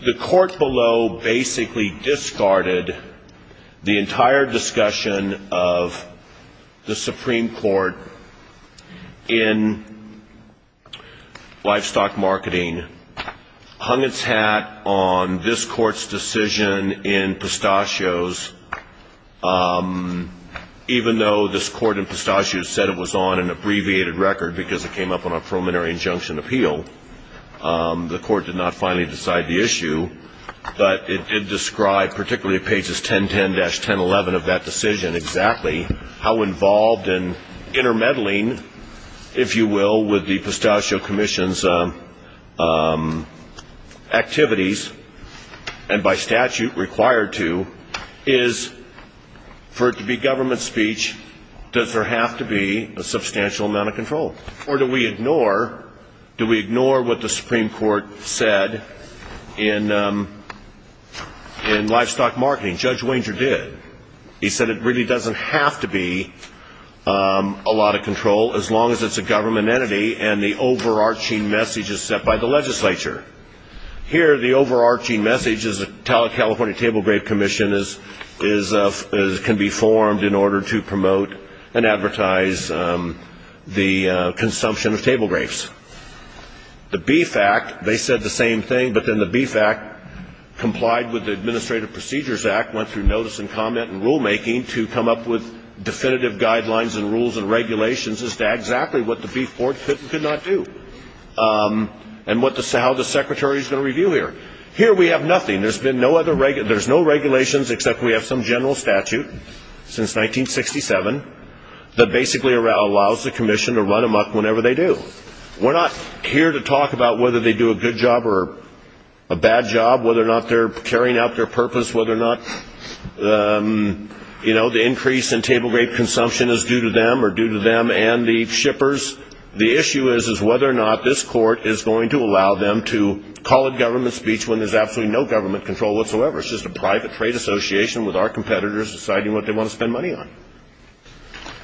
the court below basically discarded the entire discussion of the Supreme Court in livestock marketing, hung its hat on this court's decision in pistachios, even though this court in pistachios said it was on an abbreviated record because it came up on a preliminary injunction appeal. The court did not finally decide the issue. But it did describe, particularly pages 1010‑1011 of that decision exactly, how involved in intermeddling, if you will, with the pistachio commission's activities and by statute required to is for it to be government speech, does there have to be a substantial amount of control? Or do we ignore what the Supreme Court said in livestock marketing? Judge Wanger did. He said it really doesn't have to be a lot of control as long as it's a government entity and the overarching message is set by the legislature. Here, the overarching message is a California Table Grave Commission can be formed in order to promote and advertise the consumption of table grapes. The Beef Act, they said the same thing, but then the Beef Act complied with the Administrative Procedures Act, went through notice and comment and rulemaking to come up with definitive guidelines and rules and regulations as to exactly what the Beef Board could and could not do and how the Secretary is going to review here. Here we have nothing. There's no regulations except we have some general statute since 1967 that basically allows the commission to run them up whenever they do. We're not here to talk about whether they do a good job or a bad job, whether or not they're carrying out their purpose, whether or not the increase in table grape consumption is due to them or due to them and the shippers. The issue is whether or not this court is going to allow them to call it government speech when there's absolutely no government control whatsoever. It's just a private trade association with our competitors deciding what they want to spend money on.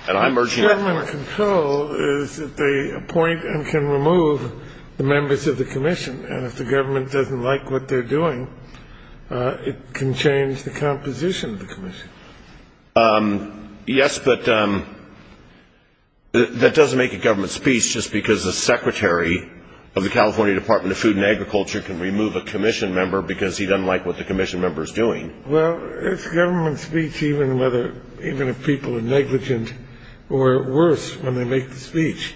And I'm urging that court. Government control is that they appoint and can remove the members of the commission, and if the government doesn't like what they're doing, it can change the composition of the commission. Yes, but that doesn't make it government speech just because the Secretary of the California Department of Food and Agriculture can remove a commission member because he doesn't like what the commission member is doing. Well, it's government speech even if people are negligent or worse when they make the speech.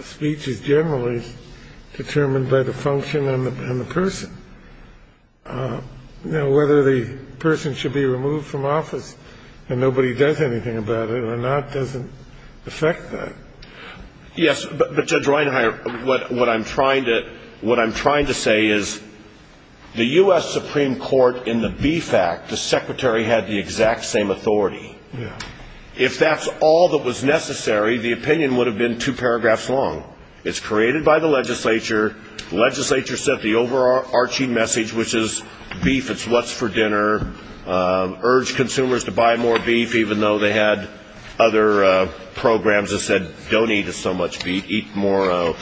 Speech is generally determined by the function and the person. Now, whether the person should be removed from office and nobody does anything about it or not doesn't affect that. Yes, but Judge Reinhart, what I'm trying to say is the U.S. Supreme Court in the Beef Act, the Secretary had the exact same authority. If that's all that was necessary, the opinion would have been two paragraphs long. It's created by the legislature. The legislature sent the overarching message, which is beef, it's what's for dinner, urged consumers to buy more beef even though they had other programs that said don't eat so much beef, eat more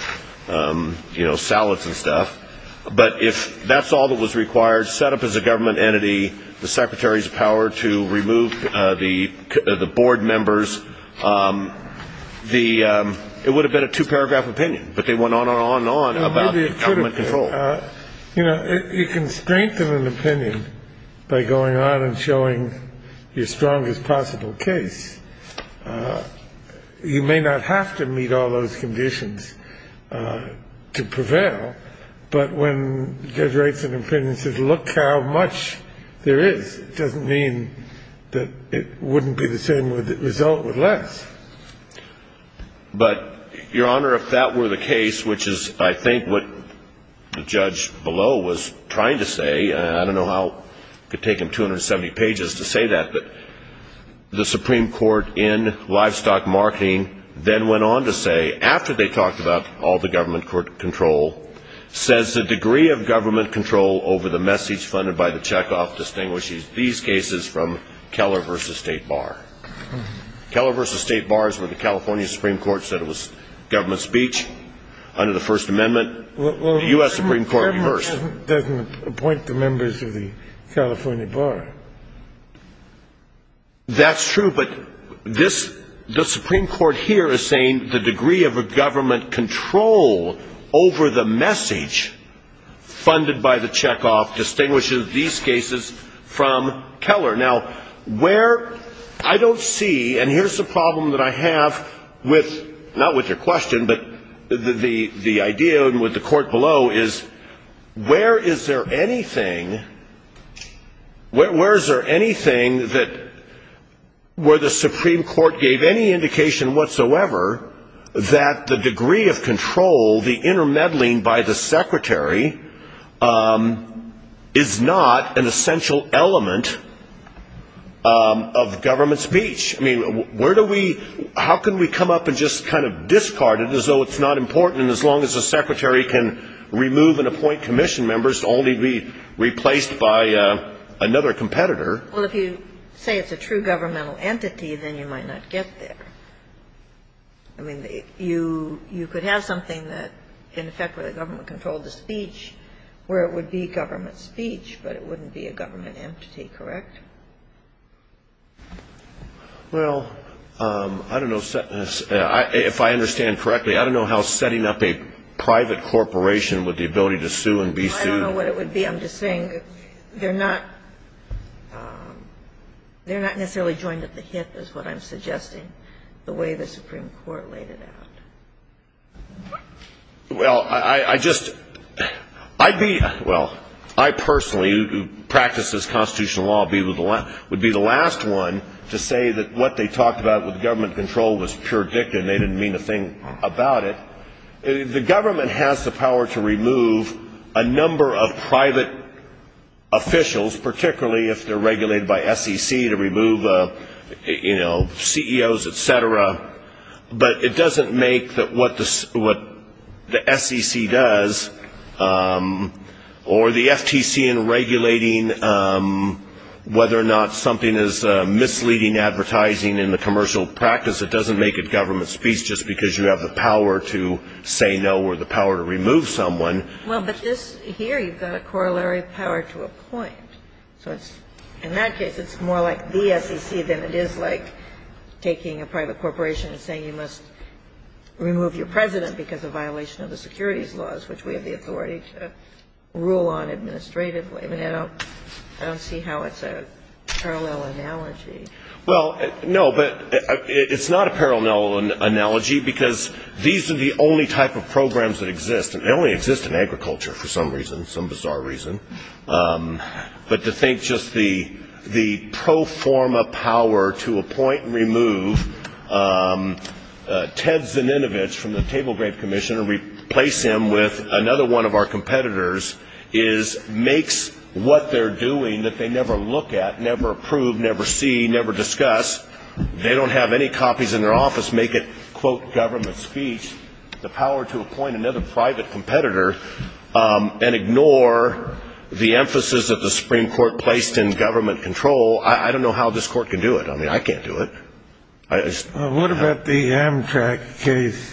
salads and stuff. But if that's all that was required, set up as a government entity, the Secretary's power to remove the board members, it would have been a two-paragraph opinion, but they went on and on and on about government control. You know, you can strengthen an opinion by going on and showing your strongest possible case. You may not have to meet all those conditions to prevail, but when Judge Reinhart's opinion says look how much there is, it doesn't mean that it wouldn't be the same result with less. But, Your Honor, if that were the case, which is I think what the judge below was trying to say, I don't know how it could take him 270 pages to say that, but the Supreme Court in Livestock Marketing then went on to say, after they talked about all the government control, says the degree of government control over the message funded by the checkoff distinguishes these cases from Keller v. State Bar. Keller v. State Bar is where the California Supreme Court said it was government speech under the First Amendment. The U.S. Supreme Court reversed. Well, the government doesn't appoint the members of the California Bar. That's true, but the Supreme Court here is saying the degree of government control over the message funded by the checkoff distinguishes these cases from Keller. Now, where I don't see, and here's the problem that I have with, not with your question, but the idea with the court below, is where is there anything, where is there anything where the Supreme Court gave any indication whatsoever that the degree of control, the intermeddling by the secretary, is not an essential element of government speech? I mean, where do we, how can we come up and just kind of discard it as though it's not important, and as long as the secretary can remove and appoint commission members to only be replaced by another competitor? Well, if you say it's a true governmental entity, then you might not get there. I mean, you could have something that, in effect, where the government controlled the speech, where it would be government speech, but it wouldn't be a government entity, correct? Well, I don't know if I understand correctly. I don't know how setting up a private corporation with the ability to sue and be sued. I don't know what it would be. I'm just saying they're not necessarily joined at the hip, is what I'm suggesting, the way the Supreme Court laid it out. Well, I just, I'd be, well, I personally, who practices constitutional law, would be the last one to say that what they talked about with government control was pure dicta, and they didn't mean a thing about it. Well, the government has the power to remove a number of private officials, particularly if they're regulated by SEC, to remove, you know, CEOs, et cetera, but it doesn't make what the SEC does, or the FTC in regulating whether or not something is misleading advertising in the commercial practice, it doesn't make it government speech just because you have the power to say no or the power to remove someone. Well, but this, here, you've got a corollary power to appoint, so in that case it's more like the SEC than it is like taking a private corporation and saying you must remove your president because of violation of the securities laws, which we have the authority to rule on administratively. I mean, I don't see how it's a parallel analogy. Well, no, but it's not a parallel analogy, because these are the only type of programs that exist, and they only exist in agriculture for some reason, some bizarre reason, but to think just the pro forma power to appoint and remove Ted Zininovich from the Table Grape Commission and replace him with another one of our competitors makes what they're doing that they never look at, never approve, never see, never discuss, they don't have any copies in their office, make it, quote, government speech, the power to appoint another private competitor and ignore the emphasis that the Supreme Court placed in government control. I don't know how this Court can do it. I mean, I can't do it. What about the Amtrak case,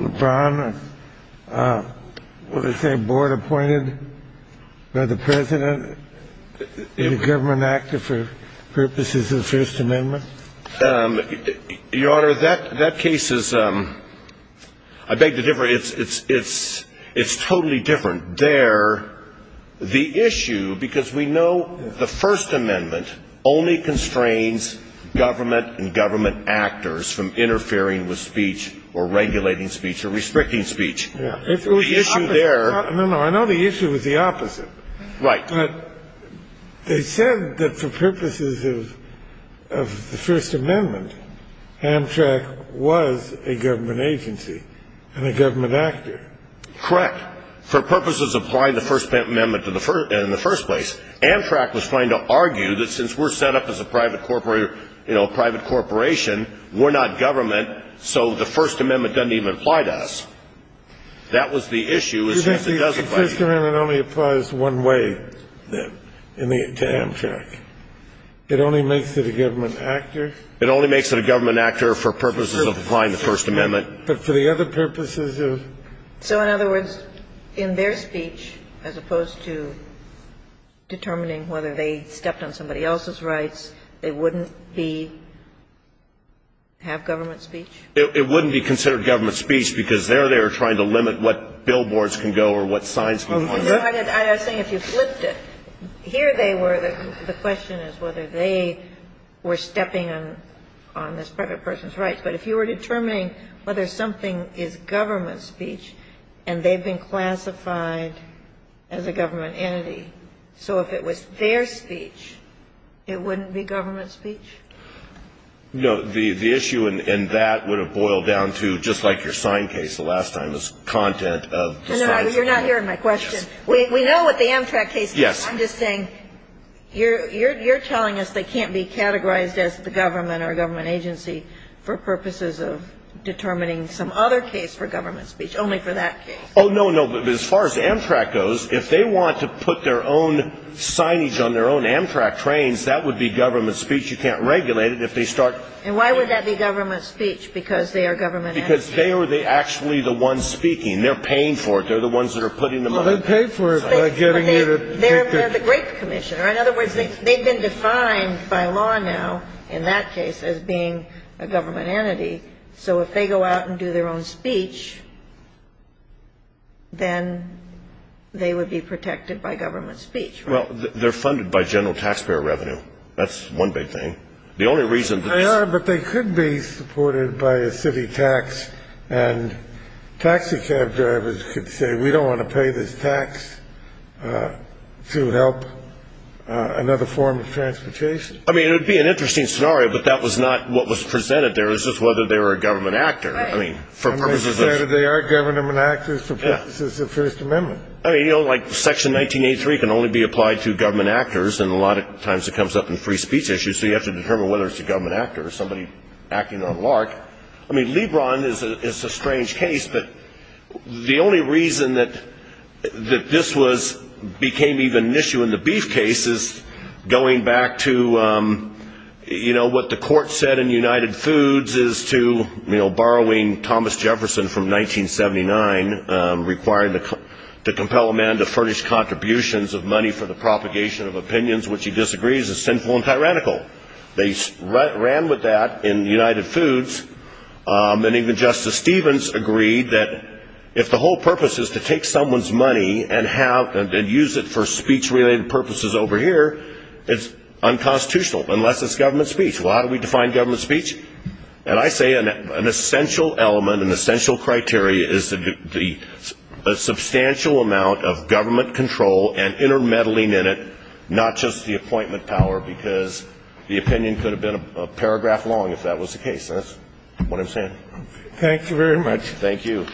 LeBron? What did they say, board appointed by the president in a government actor for purposes of the First Amendment? Your Honor, that case is, I beg to differ, it's totally different. The issue, because we know the First Amendment only constrains government and government actors from interfering with speech or regulating speech or restricting speech. The issue there... No, no, I know the issue is the opposite. Right. But they said that for purposes of the First Amendment, Amtrak was a government agency and a government actor. Correct, for purposes of applying the First Amendment in the first place. Amtrak was trying to argue that since we're set up as a private corporation, we're not government, so the First Amendment doesn't even apply to us. That was the issue. The First Amendment only applies one way to Amtrak. It only makes it a government actor. It only makes it a government actor for purposes of applying the First Amendment. But for the other purposes of... So, in other words, in their speech, as opposed to determining whether they stepped on somebody else's rights, they wouldn't be, have government speech? It wouldn't be considered government speech because there they were trying to limit what billboards can go or what signs can go. I was saying if you flipped it. Here they were, the question is whether they were stepping on this private person's rights. But if you were determining whether something is government speech and they've been classified as a government entity, so if it was their speech, it wouldn't be government speech? No. The issue in that would have boiled down to, just like your sign case the last time, is content of the sign. You're not hearing my question. We know what the Amtrak case is. Yes. I'm just saying you're telling us they can't be categorized as the government or government agency for purposes of determining some other case for government speech, only for that case. Oh, no, no. But as far as Amtrak goes, if they want to put their own signage on their own Amtrak trains, that would be government speech. You can't regulate it if they start... And why would that be government speech because they are government entities? Because they are actually the ones speaking. They're paying for it. They're the ones that are putting them up. Well, they pay for it by getting you to... They're the grape commissioner. In other words, they've been defined by law now in that case as being a government entity, so if they go out and do their own speech, then they would be protected by government speech, right? Well, they're funded by general taxpayer revenue. That's one big thing. The only reason... They are, but they could be supported by a city tax, and taxi cab drivers could say, we don't want to pay this tax to help another form of transportation. I mean, it would be an interesting scenario, but that was not what was presented there. It was just whether they were a government actor. I mean, for purposes of... They are government actors for purposes of the First Amendment. I mean, you know, like Section 1983 can only be applied to government actors, and a lot of times it comes up in free speech issues, so you have to determine whether it's a government actor or somebody acting on LARC. I mean, Lebron is a strange case, but the only reason that this became even an issue in the Beef case is going back to, you know, what the court said in United Foods is to, you know, borrowing Thomas Jefferson from 1979, requiring to compel a man to furnish contributions of money for the propagation of opinions, which he disagrees is sinful and tyrannical. They ran with that in United Foods, and even Justice Stevens agreed that if the whole purpose is to take someone's money and use it for speech-related purposes over here, it's unconstitutional, unless it's government speech. Well, how do we define government speech? And I say an essential element, an essential criteria, is a substantial amount of government control and intermeddling in it, not just the appointment power, because the opinion could have been a paragraph long if that was the case. That's what I'm saying. Thank you very much. Thank you.